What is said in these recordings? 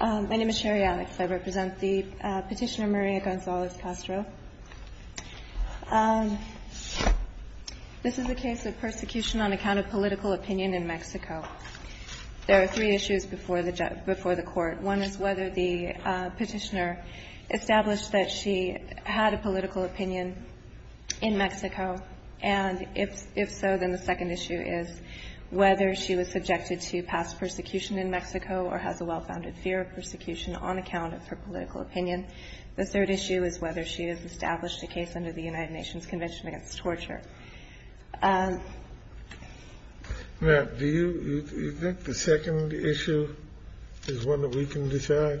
My name is Sherry Alex. I represent the petitioner Maria Gonzalez Castro. This is a case of persecution on account of political opinion in Mexico. There are three issues before the court. One is whether the petitioner established that she had a political opinion in Mexico, and if so, then the second issue is whether she was subjected to past persecution in Mexico or has a well-founded fear of persecution on account of her political opinion. The third issue is whether she has established a case under the United Nations Convention Against Torture. SCALIA Do you think the second issue is one that we can decide? GONZALEZ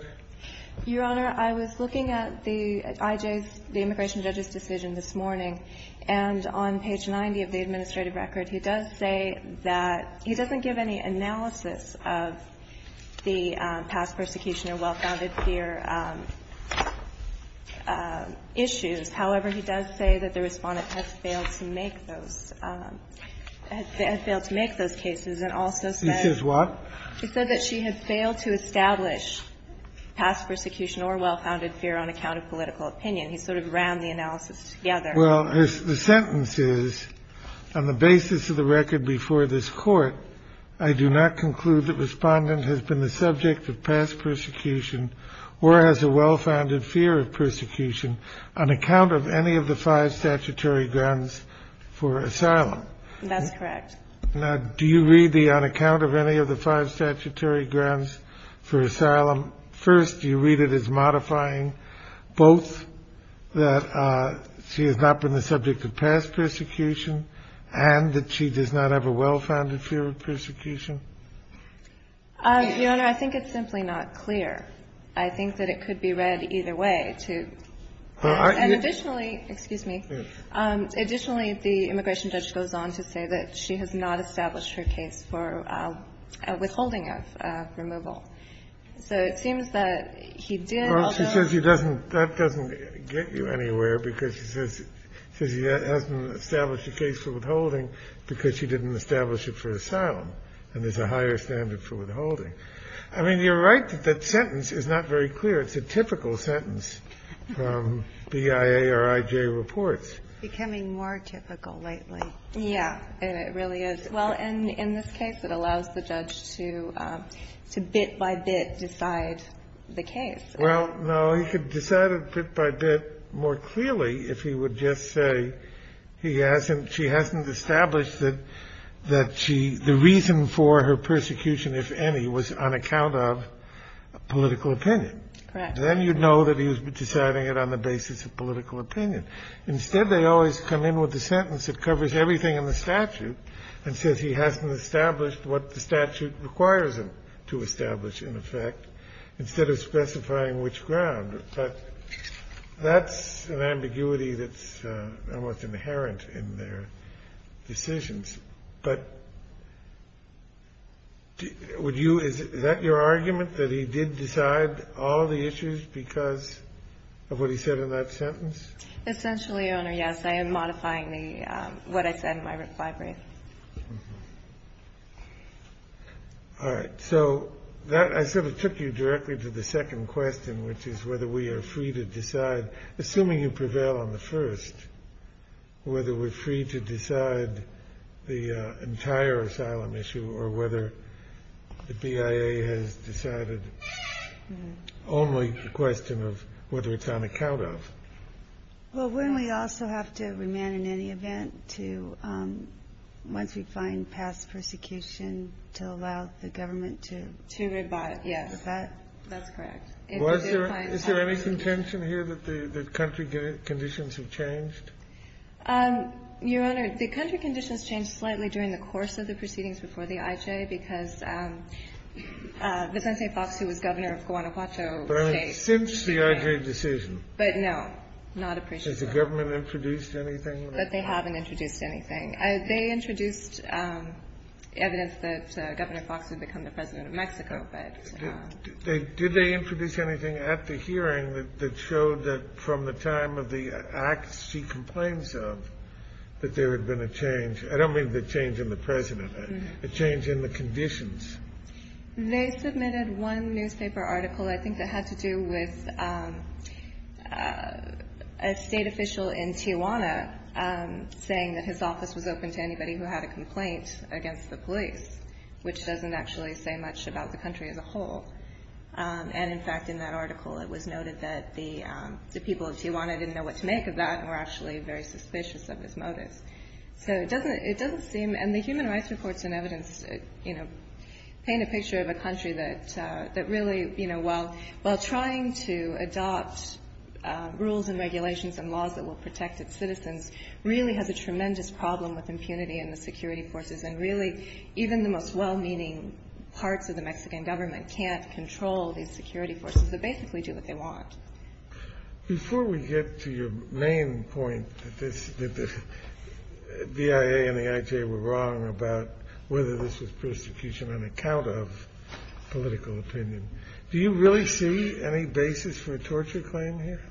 CASTRO Your Honor, I was looking at the I.J.'s, the immigration judge's decision this morning, and on page 90 of the administrative record, he does say that he doesn't give any analysis of the past persecution or well-founded fear issues. However, he does say that the Respondent has failed to make those cases and also said He says what? He said that she has failed to establish past persecution or well-founded fear on account of political opinion. He sort of ran the analysis together. Well, the sentence is, on the basis of the record before this Court, I do not conclude that Respondent has been the subject of past persecution or has a well-founded fear of persecution on account of any of the five statutory grounds for asylum. That's correct. Now, do you read the on account of any of the five statutory grounds for asylum? First, do you read it as modifying both that she has not been the subject of past persecution and that she does not have a well-founded fear of persecution? Your Honor, I think it's simply not clear. I think that it could be read either way, too. And additionally, excuse me, additionally, the immigration judge goes on to say that she has not established her case for withholding of removal. So it seems that he did. Well, she says that doesn't get you anywhere because she says he hasn't established a case for withholding because she didn't establish it for asylum and there's a higher standard for withholding. I mean, you're right that that sentence is not very clear. It's a typical sentence from BIA or IJ reports. Becoming more typical lately. Yeah. And it really is. Well, and in this case, it allows the judge to bit by bit decide the case. Well, no. He could decide it bit by bit more clearly if he would just say he hasn't, she hasn't established that she, the reason for her persecution, if any, was on account of political opinion. Correct. Then you'd know that he was deciding it on the basis of political opinion. Instead, they always come in with a sentence that covers everything in the statute and says he hasn't established what the statute requires him to establish, in effect, instead of specifying which ground. But that's an ambiguity that's almost inherent in their decisions. But would you, is that your argument, that he did decide all the issues because of what he said in that sentence? Essentially, Your Honor, yes. I am modifying the, what I said in my reply brief. All right. So that, I sort of took you directly to the second question, which is whether we are free to decide, assuming you prevail on the first, whether we're free to decide the entire asylum issue or whether the BIA has decided, only a question of whether it's on account of. Well, wouldn't we also have to remand in any event to, once we find past persecution, to allow the government to? To rebut, yes. That's correct. Was there, is there any contention here that the country conditions have changed? Your Honor, the country conditions changed slightly during the course of the proceedings before the IJ, because Vicente Fox, who was governor of Guanajuato State. But I mean, since the IJ decision. But no. Not appreciatively. Has the government introduced anything? That they haven't introduced anything. They introduced evidence that Governor Fox had become the President of Mexico, but. Did they introduce anything at the hearing that showed that from the time of the acts she complains of, that there had been a change? I don't mean the change in the President. A change in the conditions. They submitted one newspaper article, I think that had to do with a state official in Tijuana saying that his office was open to anybody who had a complaint against the police, which doesn't actually say much about the country as a whole. And in fact, in that article, it was noted that the people of Tijuana didn't know what to make of that, and were actually very suspicious of his motives. So it doesn't seem, and the human rights reports and evidence, you know, paint a picture of a country that really, you know, while trying to adopt rules and regulations and laws that will protect its citizens, really has a tremendous problem with impunity and the security forces. And really, even the most well-meaning parts of the Mexican government can't control these security forces. They basically do what they want. Before we get to your main point, that the DIA and the IJ were wrong about whether this was persecution on account of political opinion, do you really see any basis for a torture claim here?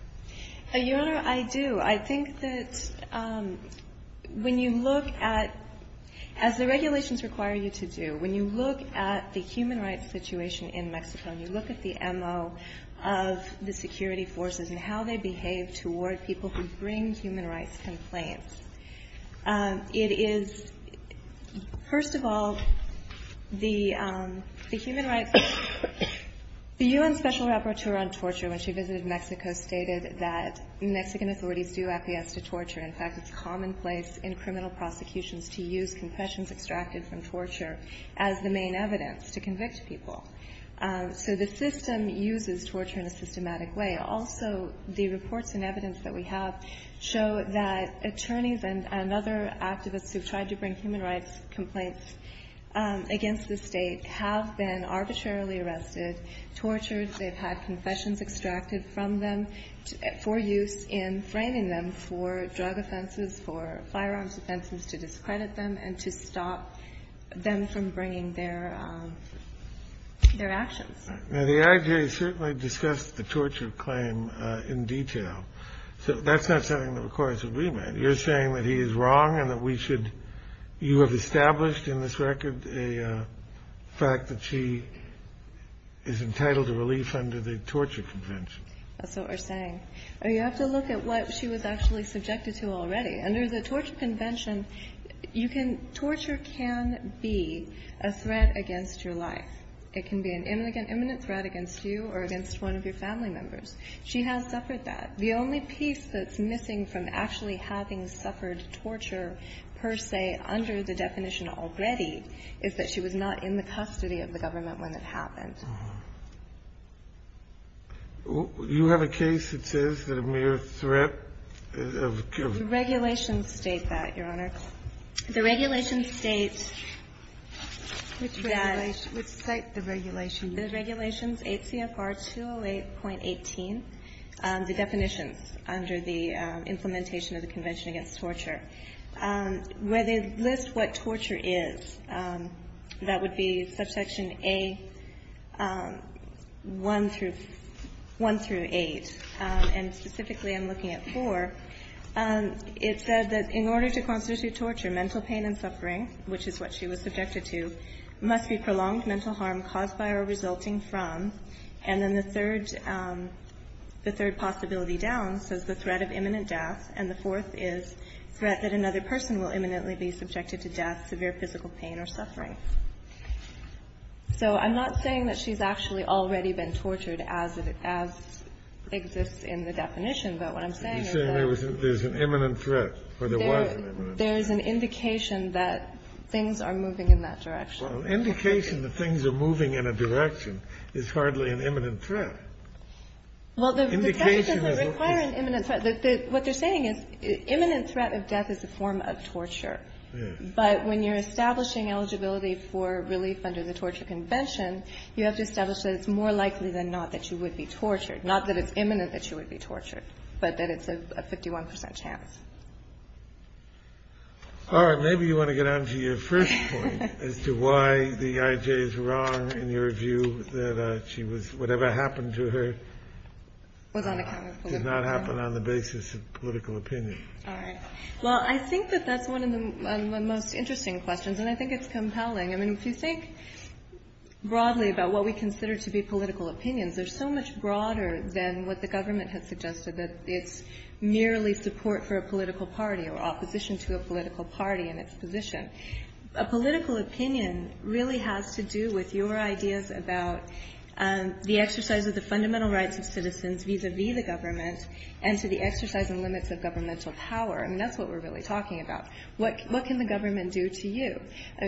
Your Honor, I do. I think that when you look at, as the regulations require you to do, when you look at the human rights situation in Mexico and you look at the MO of the security forces and how they behave toward people who bring human rights complaints, it is, first of all, the human rights, the U.N. Special Rapporteur on Torture when she visited Mexico stated that Mexican authorities do appease to torture. In fact, it's commonplace in criminal prosecutions to use confessions extracted from torture as the main evidence to convict people. So the system uses torture in a systematic way. Also, the reports and evidence that we have show that attorneys and other activists who've tried to bring human rights complaints against the State have been arbitrarily arrested, tortured. They've had confessions extracted from them for use in framing them for drug offenses, for firearms offenses, to discredit them, and to stop them from bringing their actions. Now, the IJA certainly discussed the torture claim in detail. So that's not something that requires a remand. You're saying that he is wrong and that we should you have established in this record a fact that she is entitled to relief under the torture convention. That's what we're saying. You have to look at what she was actually subjected to already. Under the torture convention, you can – torture can be a threat against your life. It can be an imminent threat against you or against one of your family members. She has suffered that. The only piece that's missing from actually having suffered torture per se under the definition already is that she was not in the custody of the government when it happened. You have a case that says that a mere threat of – The regulations state that, Your Honor. The regulations state that – Which regulations? Which cite the regulations? The regulations, 8 CFR 208.18, the definitions under the implementation of the Convention Against Torture, where they list what torture is. That would be subsection A1 through – 1 through 8. And specifically I'm looking at 4. It said that in order to constitute torture, mental pain and suffering, which is what she was subjected to, must be prolonged mental harm caused by or resulting from. And then the third – the third possibility down says the threat of imminent death, and the fourth is threat that another person will imminently be subjected to death, severe physical pain or suffering. So I'm not saying that she's actually already been tortured as it – as exists in the definition, but what I'm saying is that – You're saying there was – there's an imminent threat, or there was an imminent threat. There is an indication that things are moving in that direction. Well, indication that things are moving in a direction is hardly an imminent threat. Well, the – Indication is – The definition doesn't require an imminent threat. What they're saying is imminent threat of death is a form of torture. Yes. But when you're establishing eligibility for relief under the torture convention, you have to establish that it's more likely than not that she would be tortured, not that it's imminent that she would be tortured, but that it's a 51 percent chance. All right. Maybe you want to get on to your first point as to why the IJ is wrong in your view that she was – whatever happened to her Was on account of political opinion. Did not happen on the basis of political opinion. All right. Well, I think that that's one of the most interesting questions, and I think it's compelling. I mean, if you think broadly about what we consider to be political opinions, they're so much broader than what the government has suggested, that it's merely support for a political party or opposition to a political party and its position. A political opinion really has to do with your ideas about the exercise of the fundamental rights of citizens vis-à-vis the government and to the exercise and limits of governmental power. I mean, that's what we're really talking about. What can the government do to you?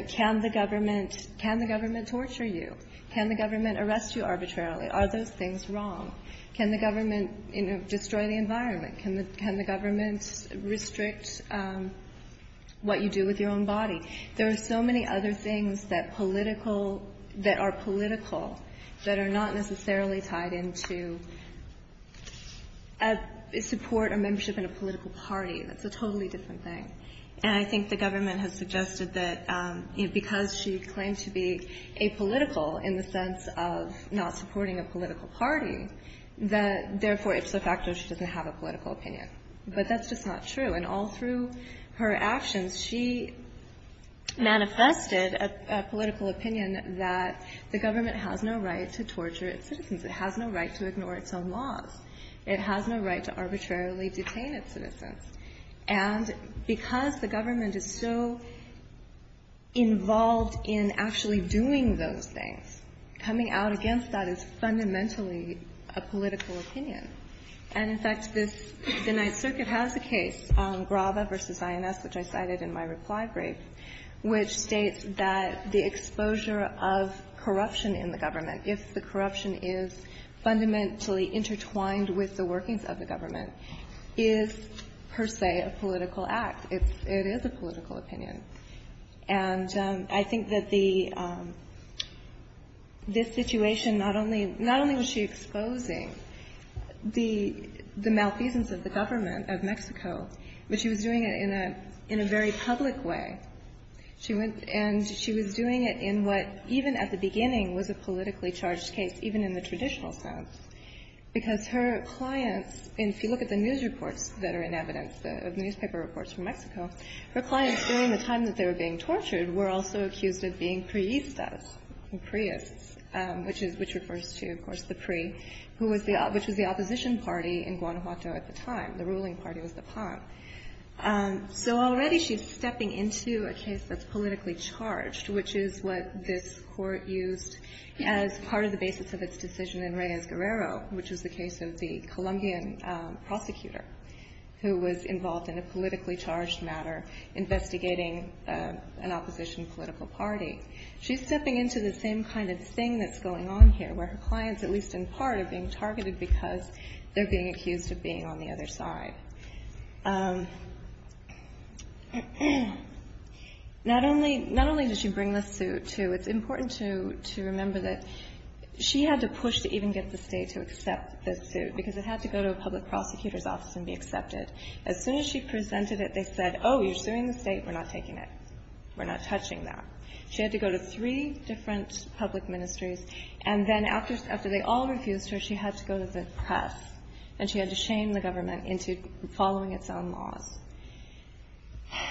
Can the government torture you? Can the government arrest you arbitrarily? Are those things wrong? Can the government destroy the environment? Can the government restrict what you do with your own body? There are so many other things that are political that are not necessarily tied into support or membership in a political party. That's a totally different thing. And I think the government has suggested that because she claimed to be apolitical in the sense of not supporting a political party, that therefore it's a factor she doesn't have a political opinion. But that's just not true. And all through her actions, she manifested a political opinion that the government has no right to torture its citizens. It has no right to ignore its own laws. It has no right to arbitrarily detain its citizens. And because the government is so involved in actually doing those things, coming out against that is fundamentally a political opinion. And, in fact, this, the Ninth Circuit has a case, Graba v. INS, which I cited in my reply brief, which states that the exposure of corruption in the government, if the corruption is fundamentally intertwined with the workings of the government, is per se a political act. It is a political opinion. And I think that the, this situation, not only was she exposing the malfeasance of the government of Mexico, but she was doing it in a very public way. She went, and she was doing it in what, even at the beginning, was a politically charged case, even in the traditional sense. Because her clients, and if you look at the news reports that are in evidence, the newspaper reports from Mexico, her clients during the time that they were being tortured were also accused of being priestas and priests, which is, which refers to, of course, the PRI, who was the, which was the opposition party in The ruling party was the PAN. So already she's stepping into a case that's politically charged, which is what this court used as part of the basis of its decision in Reyes-Guerrero, which was the case of the Colombian prosecutor, who was involved in a politically charged matter, investigating an opposition political party. She's stepping into the same kind of thing that's going on here, where her clients, at least in part, are being targeted because they're being accused of being on the other side. Not only, not only did she bring the suit, too, it's important to, to remember that she had to push to even get the state to accept this suit, because it had to go to a public prosecutor's office and be accepted. As soon as she presented it, they said, oh, you're suing the state? We're not taking it. We're not touching that. She had to go to three different public ministries, and then after, after they all refused her, she had to go to the press, and she had to shame the government into following its own laws.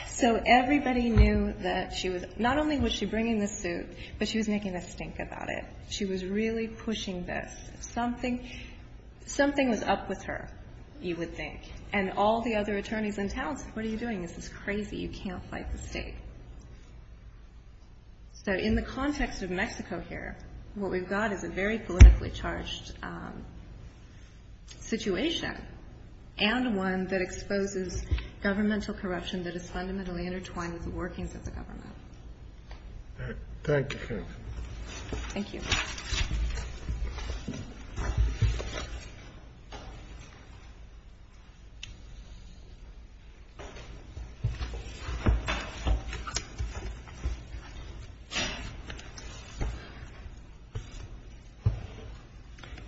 So everybody knew that she was, not only was she bringing the suit, but she was making a stink about it. She was really pushing this. Something, something was up with her, you would think, and all the other attorneys in town said, what are you doing? This is crazy. You can't fight the state. So in the context of Mexico here, what we've got is a very politically charged situation, and one that exposes governmental corruption that is fundamentally intertwined with the workings of the government. Thank you. Thank you. Good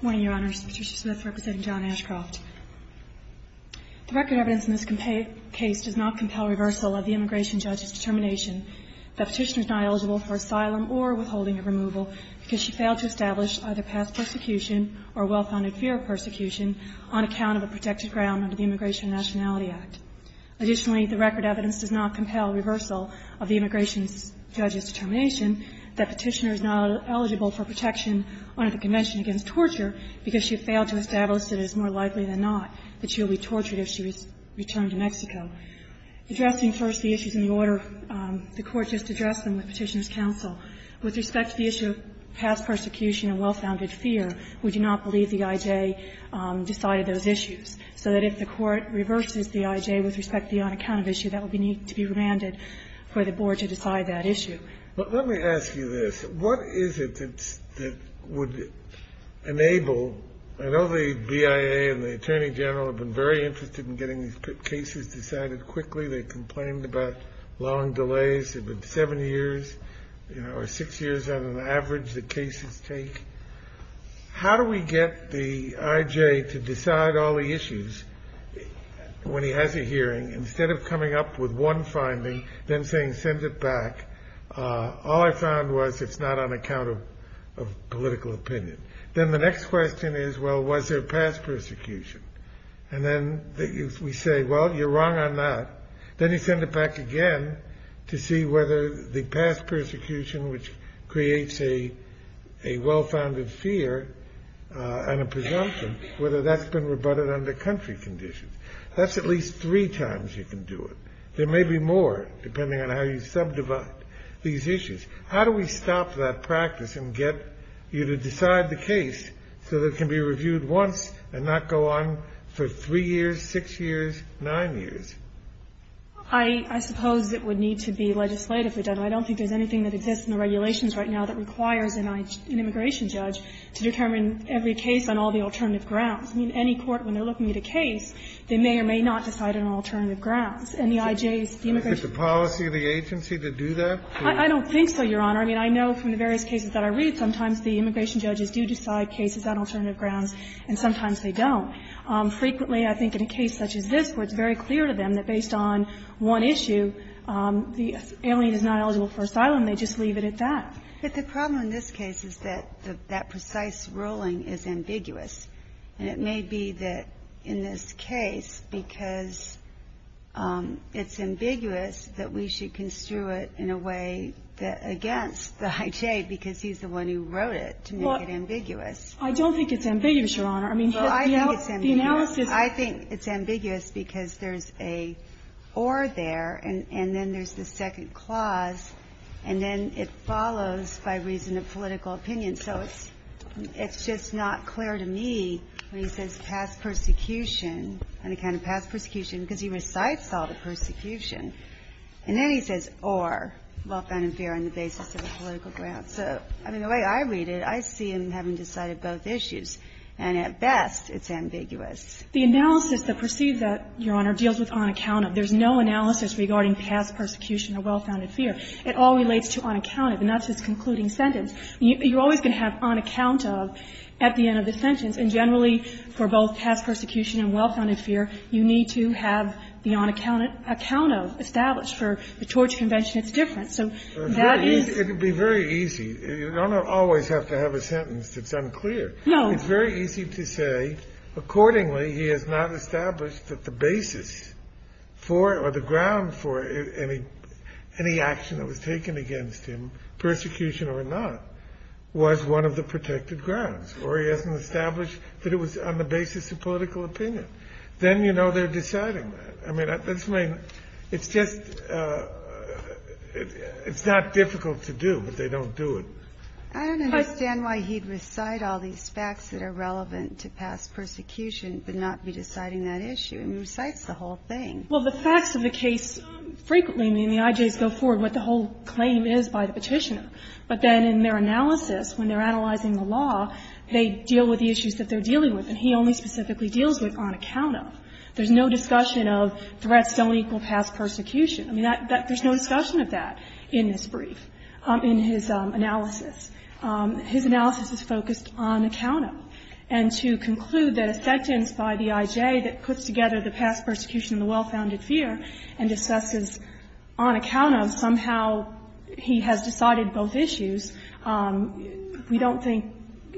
morning, Your Honors. Patricia Smith representing John Ashcroft. The record evidence in this case does not compel reversal of the immigration judge's determination that Petitioner is not eligible for asylum or withholding of removal because she failed to establish either past persecution or well-founded fear of persecution on account of a protected ground under the Immigration and Nationality Act. Additionally, the record evidence does not compel reversal of the immigration judge's determination that Petitioner is not eligible for protection under the Convention Against Torture because she failed to establish that it is more likely than not that she will be tortured if she returned to Mexico. Addressing first the issues in the order the Court just addressed them with Petitioners' counsel, with respect to the issue of past persecution and well-founded fear, we do not believe the I.J. decided those issues. So that if the Court reverses the I.J. with respect to the on-account of issue, that would need to be remanded for the Board to decide that issue. Let me ask you this. What is it that would enable – I know the BIA and the Attorney General have been very interested in getting these cases decided quickly. They complained about long delays. It's been seven years or six years on an average that cases take. How do we get the I.J. to decide all the issues when he has a hearing instead of coming up with one finding, then saying, send it back. All I found was it's not on account of political opinion. Then the next question is, well, was there past persecution? And then we say, well, you're wrong on that. Then you send it back again to see whether the past persecution, which creates a well-founded fear and a presumption, whether that's been rebutted under country conditions. That's at least three times you can do it. There may be more, depending on how you subdivide these issues. How do we stop that practice and get you to decide the case so that it can be reviewed once and not go on for three years, six years, nine years? I suppose it would need to be legislatively done. I don't think there's anything that exists in the regulations right now that requires an immigration judge to determine every case on all the alternative grounds. I mean, any court, when they're looking at a case, they may or may not decide on all alternative grounds. And the IJs, the immigration judges do. Kennedy, is it the policy of the agency to do that? I don't think so, Your Honor. I mean, I know from the various cases that I read, sometimes the immigration judges do decide cases on alternative grounds, and sometimes they don't. Frequently, I think in a case such as this, where it's very clear to them that based on one issue, the alien is not eligible for asylum, they just leave it at that. But the problem in this case is that that precise ruling is ambiguous. And it may be that in this case, because it's ambiguous, that we should construe it in a way that's against the IJ, because he's the one who wrote it to make it ambiguous. I don't think it's ambiguous, Your Honor. I mean, the analysis of it. I think it's ambiguous because there's a or there, and then there's the second clause, and then it follows by reason of political opinion. So it's just not clear to me when he says past persecution, unaccounted past persecution, because he recites all the persecution. And then he says or, well-founded fear on the basis of a political ground. So, I mean, the way I read it, I see him having decided both issues. And at best, it's ambiguous. The analysis that proceeds that, Your Honor, deals with unaccounted. There's no analysis regarding past persecution or well-founded fear. It all relates to unaccounted, and that's his concluding sentence. You're always going to have unaccounted at the end of the sentence. And generally, for both past persecution and well-founded fear, you need to have the unaccounted established. For the Torch Convention, it's different. So that is the case. It would be very easy. You don't always have to have a sentence that's unclear. No. It's very easy to say, accordingly, he has not established that the basis for or the was one of the protected grounds. Or he hasn't established that it was on the basis of political opinion. Then, you know, they're deciding. I mean, it's just it's not difficult to do, but they don't do it. I don't understand why he'd recite all these facts that are relevant to past persecution but not be deciding that issue. He recites the whole thing. Well, the facts of the case frequently in the IJs go forward, what the whole claim is by the petitioner. But then in their analysis, when they're analyzing the law, they deal with the issues that they're dealing with. And he only specifically deals with on account of. There's no discussion of threats don't equal past persecution. I mean, there's no discussion of that in this brief, in his analysis. His analysis is focused on account of. And to conclude that a sentence by the IJ that puts together the past persecution and the well-founded fear and discusses on account of, somehow he has decided both issues, we don't think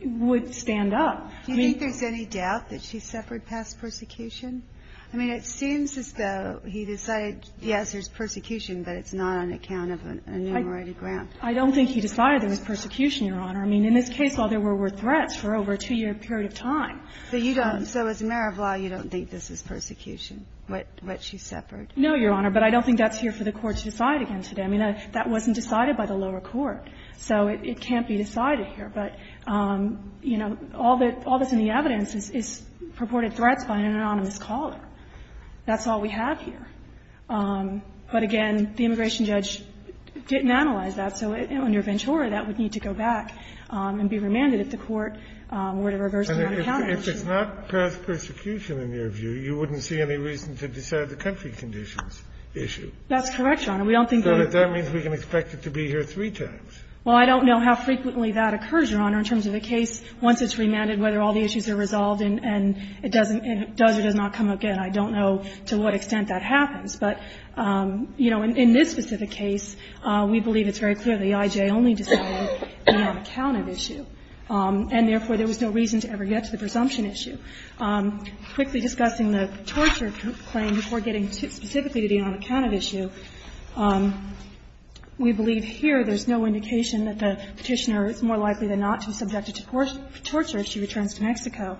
would stand up. Do you think there's any doubt that she suffered past persecution? I mean, it seems as though he decided, yes, there's persecution, but it's not on account of an enumerated grant. I don't think he decided there was persecution, Your Honor. I mean, in this case, all there were were threats for over a two-year period of time. So you don't so as a mayor of law, you don't think this is persecution, what she suffered? No, Your Honor. But I don't think that's here for the Court to decide again today. I mean, that wasn't decided by the lower court. So it can't be decided here. But, you know, all that's in the evidence is purported threats by an anonymous caller. That's all we have here. But, again, the immigration judge didn't analyze that. So under Ventura, that would need to go back and be remanded if the Court were to reverse the on-account action. If it's not persecution, in your view, you wouldn't see any reason to decide the country conditions issue. That's correct, Your Honor. We don't think there is. So that means we can expect it to be here three times. Well, I don't know how frequently that occurs, Your Honor, in terms of a case. Once it's remanded, whether all the issues are resolved and it doesn't, it does or does not come again, I don't know to what extent that happens. But, you know, in this specific case, we believe it's very clear the I.J. only decided the on-accounted issue. And, therefore, there was no reason to ever get to the presumption issue. Quickly discussing the torture claim before getting specifically to the on-accounted issue, we believe here there's no indication that the Petitioner is more likely than not to be subjected to torture if she returns to Mexico.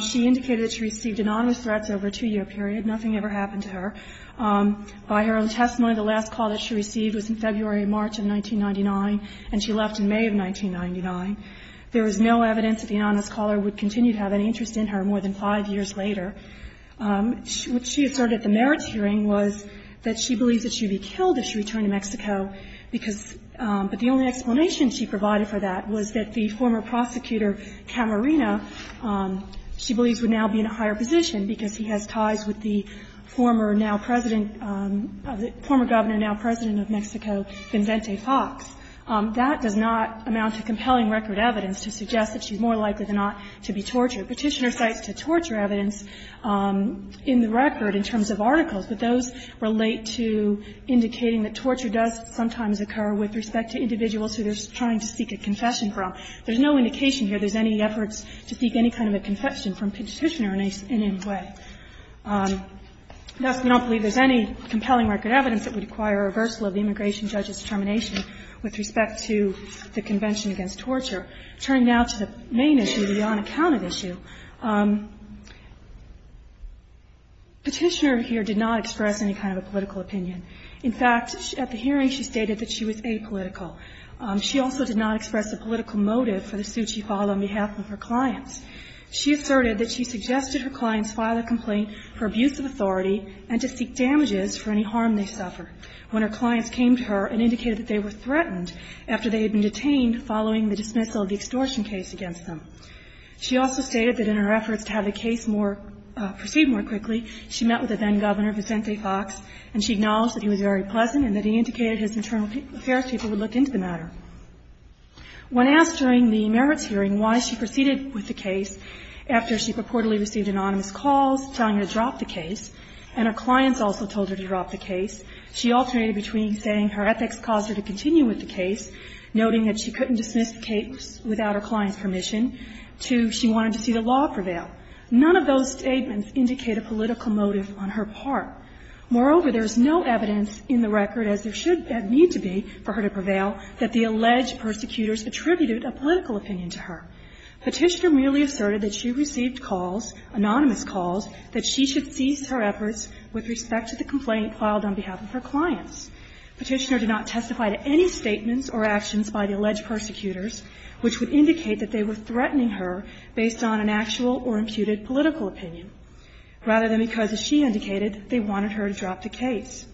She indicated that she received anonymous threats over a two-year period. Nothing ever happened to her. By her own testimony, the last call that she received was in February or March of 1999, and she left in May of 1999. There is no evidence that the anonymous caller would continue to have any interest in her more than five years later. What she asserted at the merits hearing was that she believes that she would be killed if she returned to Mexico because the only explanation she provided for that was that the former prosecutor, Camarena, she believes would now be in a higher position because he has ties with the former now President of the former Governor, now President of Mexico, Vincente Fox. That does not amount to compelling record evidence to suggest that she's more likely than not to be tortured. Petitioner cites the torture evidence in the record in terms of articles, but those relate to indicating that torture does sometimes occur with respect to individuals who they're trying to seek a confession from. There's no indication here there's any efforts to seek any kind of a confession from Petitioner in any way. Thus, we don't believe there's any compelling record evidence that would require a reversal of the immigration judge's determination with respect to the Convention Against Torture. Turning now to the main issue, the unaccounted issue, Petitioner here did not express any kind of a political opinion. In fact, at the hearing, she stated that she was apolitical. She also did not express a political motive for the suit she filed on behalf of her clients. She asserted that she suggested her clients file a complaint for abuse of authority and to seek damages for any harm they suffered when her clients came to her and indicated that they were threatened after they had been detained following the dismissal of the extortion case against them. She also stated that in her efforts to have the case proceed more quickly, she met with the then-governor, Vincente Fox, and she acknowledged that he was very pleasant When asked during the merits hearing why she proceeded with the case after she purportedly received anonymous calls telling her to drop the case, and her clients also told her to drop the case, she alternated between saying her ethics caused her to continue with the case, noting that she couldn't dismiss the case without her clients' permission, to she wanted to see the law prevail. None of those statements indicate a political motive on her part. Moreover, there is no evidence in the record, as there should and need to be for her to prevail, that the alleged persecutors attributed a political opinion to her. Petitioner merely asserted that she received calls, anonymous calls, that she should cease her efforts with respect to the complaint filed on behalf of her clients. Petitioner did not testify to any statements or actions by the alleged persecutors, which would indicate that they were threatening her based on an actual or imputed political opinion, rather than because, as she indicated, they wanted her to drop the case.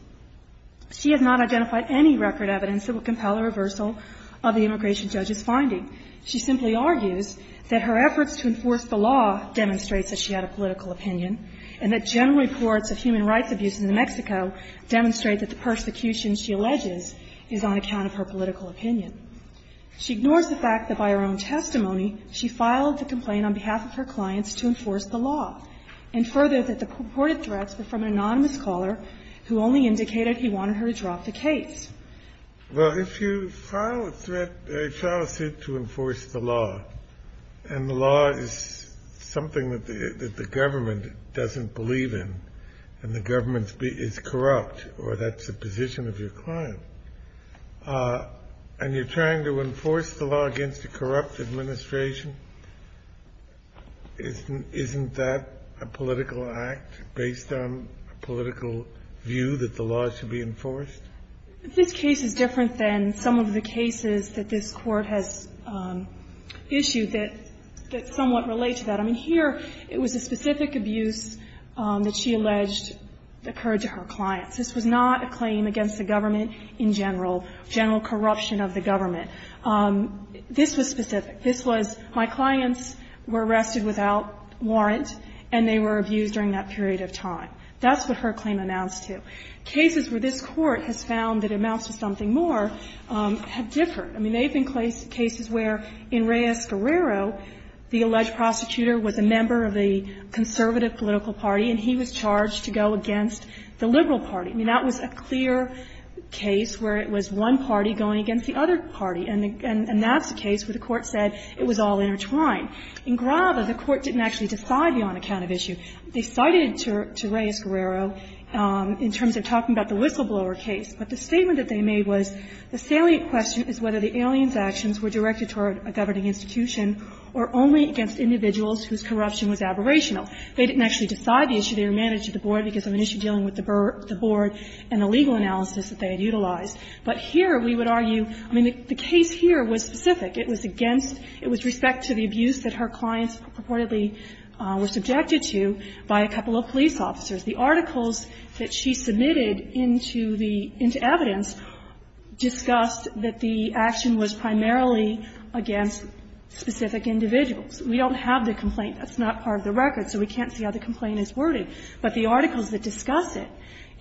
She has not identified any record evidence that would compel a reversal of the immigration judge's finding. She simply argues that her efforts to enforce the law demonstrates that she had a political opinion, and that general reports of human rights abuse in New Mexico demonstrate that the persecution she alleges is on account of her political opinion. She ignores the fact that by her own testimony, she filed the complaint on behalf of her clients to enforce the law, and furthered that the purported threats were from an anonymous caller who only indicated he wanted her to drop the case. Well, if you file a threat, file a suit to enforce the law, and the law is something that the government doesn't believe in, and the government is corrupt, or that's the position of your client, and you're trying to enforce the law against a corrupt administration, isn't that a political act based on a political view that the law should be enforced? This case is different than some of the cases that this Court has issued that somewhat relate to that. I mean, here it was a specific abuse that she alleged occurred to her clients. This was not a claim against the government in general, general corruption of the government. This was specific. This was my clients were arrested without warrant, and they were abused during that period of time. That's what her claim amounts to. Cases where this Court has found that it amounts to something more have differed. I mean, there have been cases where in Reyes-Guerrero, the alleged prosecutor was a member of the conservative political party, and he was charged to go against the liberal party. I mean, that was a clear case where it was one party going against the other party, and that's a case where the Court said it was all intertwined. In Grava, the Court didn't actually decide beyond a count of issue. They cited to Reyes-Guerrero in terms of talking about the whistleblower case, but the statement that they made was the salient question is whether the aliens actions were directed toward a governing institution or only against individuals whose corruption was aberrational. They didn't actually decide the issue. They were managing the board because of an issue dealing with the board and the legal analysis that they had utilized. But here we would argue, I mean, the case here was specific. It was against – it was respect to the abuse that her clients purportedly were subjected to by a couple of police officers. The articles that she submitted into the – into evidence discussed that the action was primarily against specific individuals. We don't have the complaint. That's not part of the record, so we can't see how the complaint is worded. But the articles that discuss it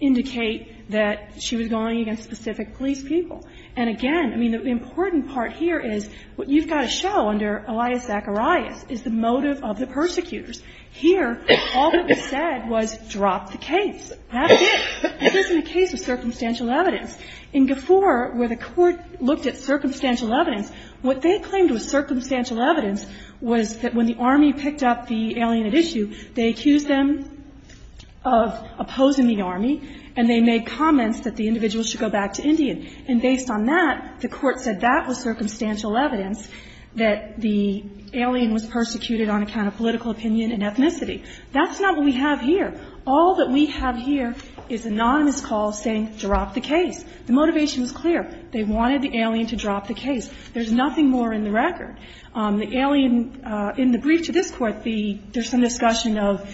indicate that she was going against specific police people. And again, I mean, the important part here is what you've got to show under Elias Zacharias is the motive of the persecutors. Here, all that was said was drop the case. That's it. This isn't a case of circumstantial evidence. In Gafoor, where the Court looked at circumstantial evidence, what they claimed was circumstantial evidence was that when the Army picked up the alien at issue, they accused them of opposing the Army, and they made comments that the individual should go back to Indian. And based on that, the Court said that was circumstantial evidence that the alien was persecuted on account of political opinion and ethnicity. That's not what we have here. All that we have here is anonymous calls saying drop the case. The motivation was clear. They wanted the alien to drop the case. There's nothing more in the record. The alien – in the brief to this Court, the – there's some discussion of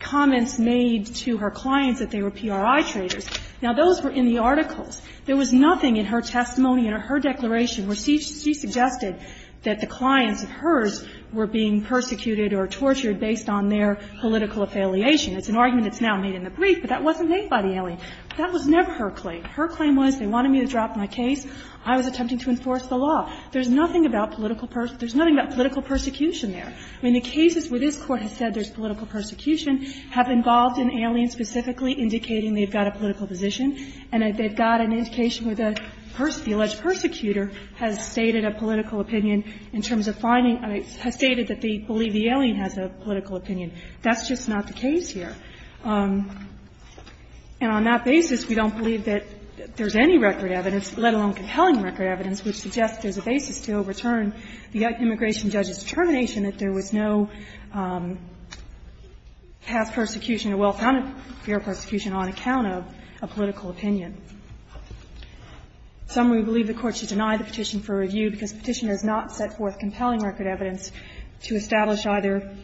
comments made to her clients that they were PRI traitors. Now, those were in the articles. There was nothing in her testimony or her declaration where she suggested that the clients of hers were being persecuted or tortured based on their political affiliation. It's an argument that's now made in the brief, but that wasn't made by the alien. That was never her claim. Her claim was they wanted me to drop my case. I was attempting to enforce the law. There's nothing about political – there's nothing about political persecution there. I mean, the cases where this Court has said there's political persecution have involved an alien specifically indicating they've got a political position and that they've got an indication where the alleged persecutor has stated a political opinion in terms of finding – has stated that they believe the alien has a political opinion. That's just not the case here. And on that basis, we don't believe that there's any record evidence, let alone compelling record evidence, which suggests there's a basis to overturn the immigration judge's determination that there was no past persecution or well-founded fear of persecution on account of a political opinion. Some would believe the Court should deny the petition for review because the petitioner has not set forth compelling record evidence to establish either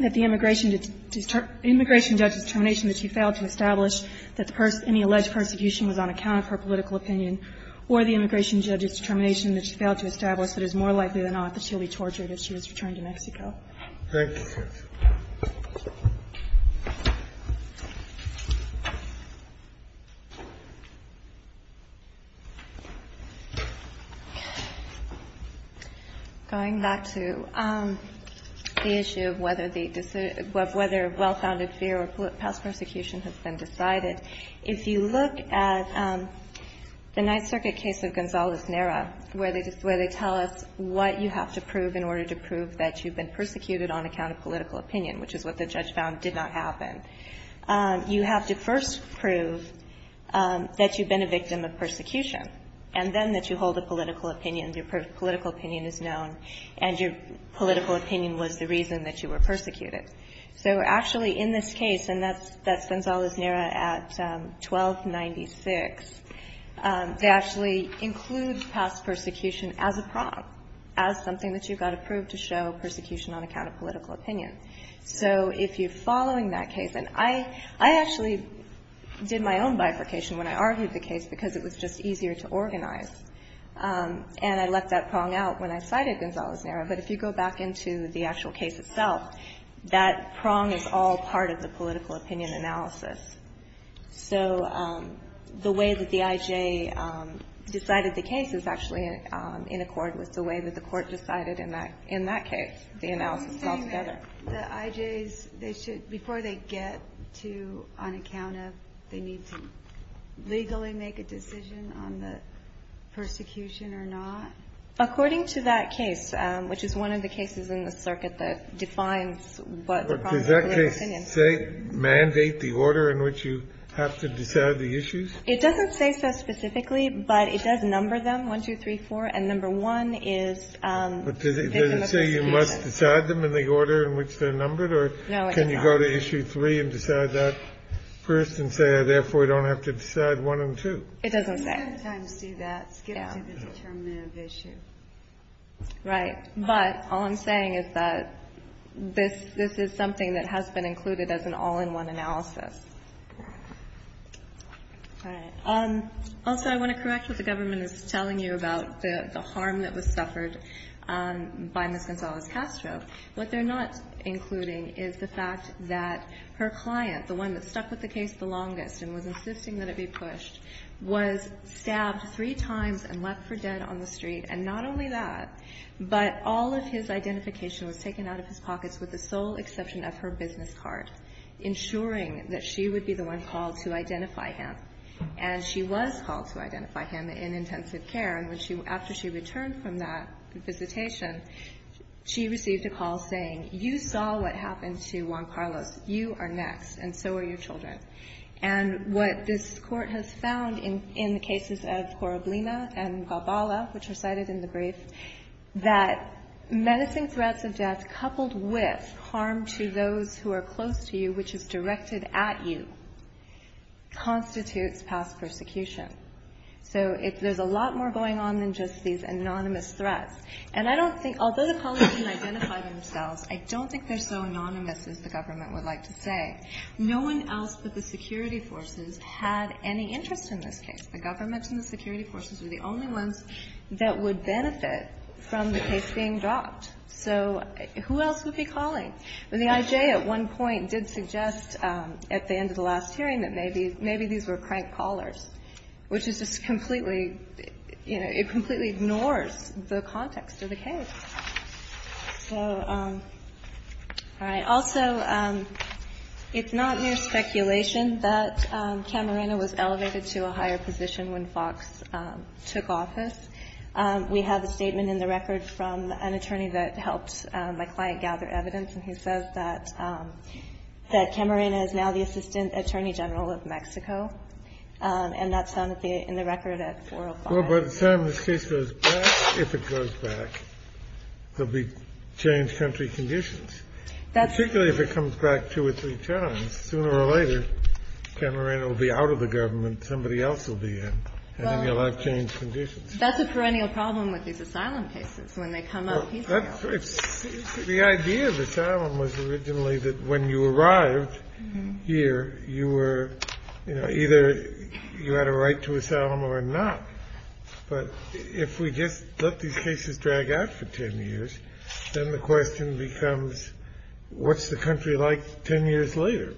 that the immigration judge's determination that she failed to establish that any alleged persecution was on account of her political opinion or the immigration judge's determination that she failed to establish that it's more likely than not that she'll be tortured if she was returned to Mexico. Thank you. Going back to the issue of whether the – of whether well-founded fear or past persecution has been decided, if you look at the Ninth Circuit case of Gonzalez-Nera, where they tell us what you have to prove in order to prove that you've been persecuted on account of political opinion, which is what the judge found did not happen, you have to first prove that you've been a victim of persecution and then that you hold a political opinion, your political opinion is known, and your political opinion was the reason that you were persecuted. So actually in this case, and that's Gonzalez-Nera at 1296, they actually include past persecution as a prong, as something that you've got to prove to show persecution on account of political opinion. So if you're following that case, and I actually did my own bifurcation when I argued the case because it was just easier to organize, and I let that prong out when I cited Gonzalez-Nera. But if you go back into the actual case itself, that prong is all part of the political opinion analysis. So the way that the I.J. decided the case is actually in accord with the way that the court decided in that case, the analysis altogether. The I.J.'s, they should, before they get to on account of, they need to legally make a decision on the persecution or not? According to that case, which is one of the cases in the circuit that defines what the prong of political opinion is. But does that case say, mandate the order in which you have to decide the issues? It doesn't say so specifically, but it does number them, 1, 2, 3, 4. And number 1 is, they come up with a decision. But does it say you must decide them in the order in which they're numbered? No, it doesn't. Or can you go to issue 3 and decide that first and say, therefore, we don't have to decide 1 and 2? It doesn't say. I sometimes see that skip to the determinative issue. Right. But all I'm saying is that this is something that has been included as an all-in-one analysis. All right. Also, I want to correct what the government is telling you about the harm that was suffered by Ms. Gonzalez-Castro. What they're not including is the fact that her client, the one that stuck with the and left for dead on the street. And not only that, but all of his identification was taken out of his pockets with the sole exception of her business card, ensuring that she would be the one called to identify him. And she was called to identify him in intensive care. And after she returned from that visitation, she received a call saying, you saw what happened to Juan Carlos. You are next, and so are your children. And what this court has found in the cases of Coroblina and Gabala, which are cited in the brief, that menacing threats of death coupled with harm to those who are close to you, which is directed at you, constitutes past persecution. So there's a lot more going on than just these anonymous threats. And I don't think, although the colleagues didn't identify themselves, I don't think they're so anonymous, as the government would like to say. No one else but the security forces had any interest in this case. The government and the security forces were the only ones that would benefit from the case being dropped. So who else would be calling? And the I.J. at one point did suggest at the end of the last hearing that maybe these were crank callers, which is just completely, you know, it completely ignores the context of the case. So, all right. Also, it's not new speculation that Camarena was elevated to a higher position when Fox took office. We have a statement in the record from an attorney that helped my client gather evidence, and he says that Camarena is now the assistant attorney general of Mexico, and that's found in the record at 405. Well, but Sam, this case goes back. If it goes back, there'll be changed country conditions, particularly if it comes back two or three times. Sooner or later, Camarena will be out of the government. Somebody else will be in, and then you'll have changed conditions. Well, that's a perennial problem with these asylum cases. When they come up, people go. The idea of asylum was originally that when you arrived here, you were, you know, But if we just let these cases drag out for 10 years, then the question becomes, what's the country like 10 years later?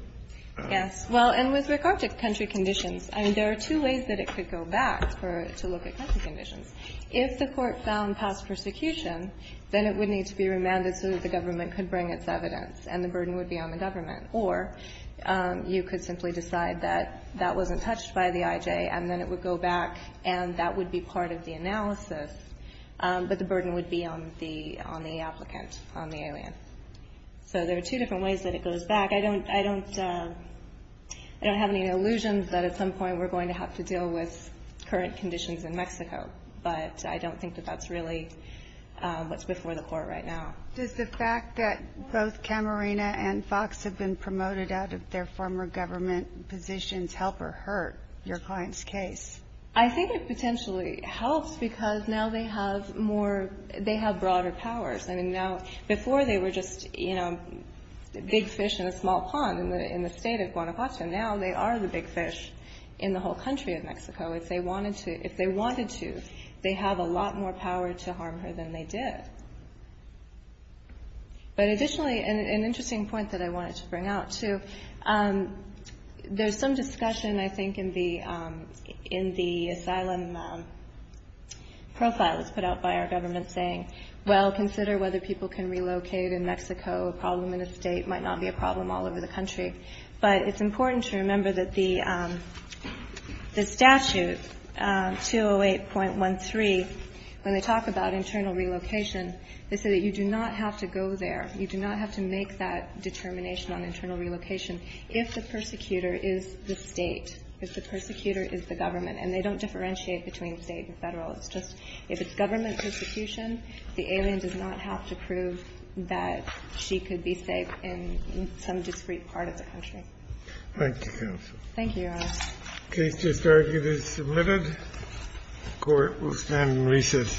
Yes. Well, and with regard to country conditions, I mean, there are two ways that it could go back for it to look at country conditions. If the Court found past persecution, then it would need to be remanded so that the government could bring its evidence, and the burden would be on the government. Or you could simply decide that that wasn't touched by the IJ, and then it would go back, and that would be part of the analysis, but the burden would be on the applicant, on the alien. So there are two different ways that it goes back. I don't have any illusions that at some point we're going to have to deal with current conditions in Mexico, but I don't think that that's really what's before the Court right now. Does the fact that both Camarena and Fox have been promoted out of their former government positions help or hurt your client's case? I think it potentially helps because now they have more, they have broader powers. I mean, now, before they were just, you know, big fish in a small pond in the state of Guanajuato. Now they are the big fish in the whole country of Mexico. If they wanted to, they have a lot more power to harm her than they did. But additionally, an interesting point that I wanted to bring out, too, there's some discussion, I think, in the asylum profile that's put out by our government saying, well, consider whether people can relocate in Mexico. A problem in a state might not be a problem all over the country. But it's important to remember that the statute, 208.13, when they talk about internal relocation, they say that you do not have to go there. You do not have to make that determination on internal relocation if the persecutor is the State, if the persecutor is the government. And they don't differentiate between State and Federal. It's just if it's government persecution, the alien does not have to prove that she could be safe in some discrete part of the country. Thank you, counsel. Thank you, Your Honor. The case just argued is submitted. The court will stand in recess for the day.